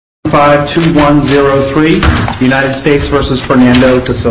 5-2-1-0-3 United States v. Fernando DaSilva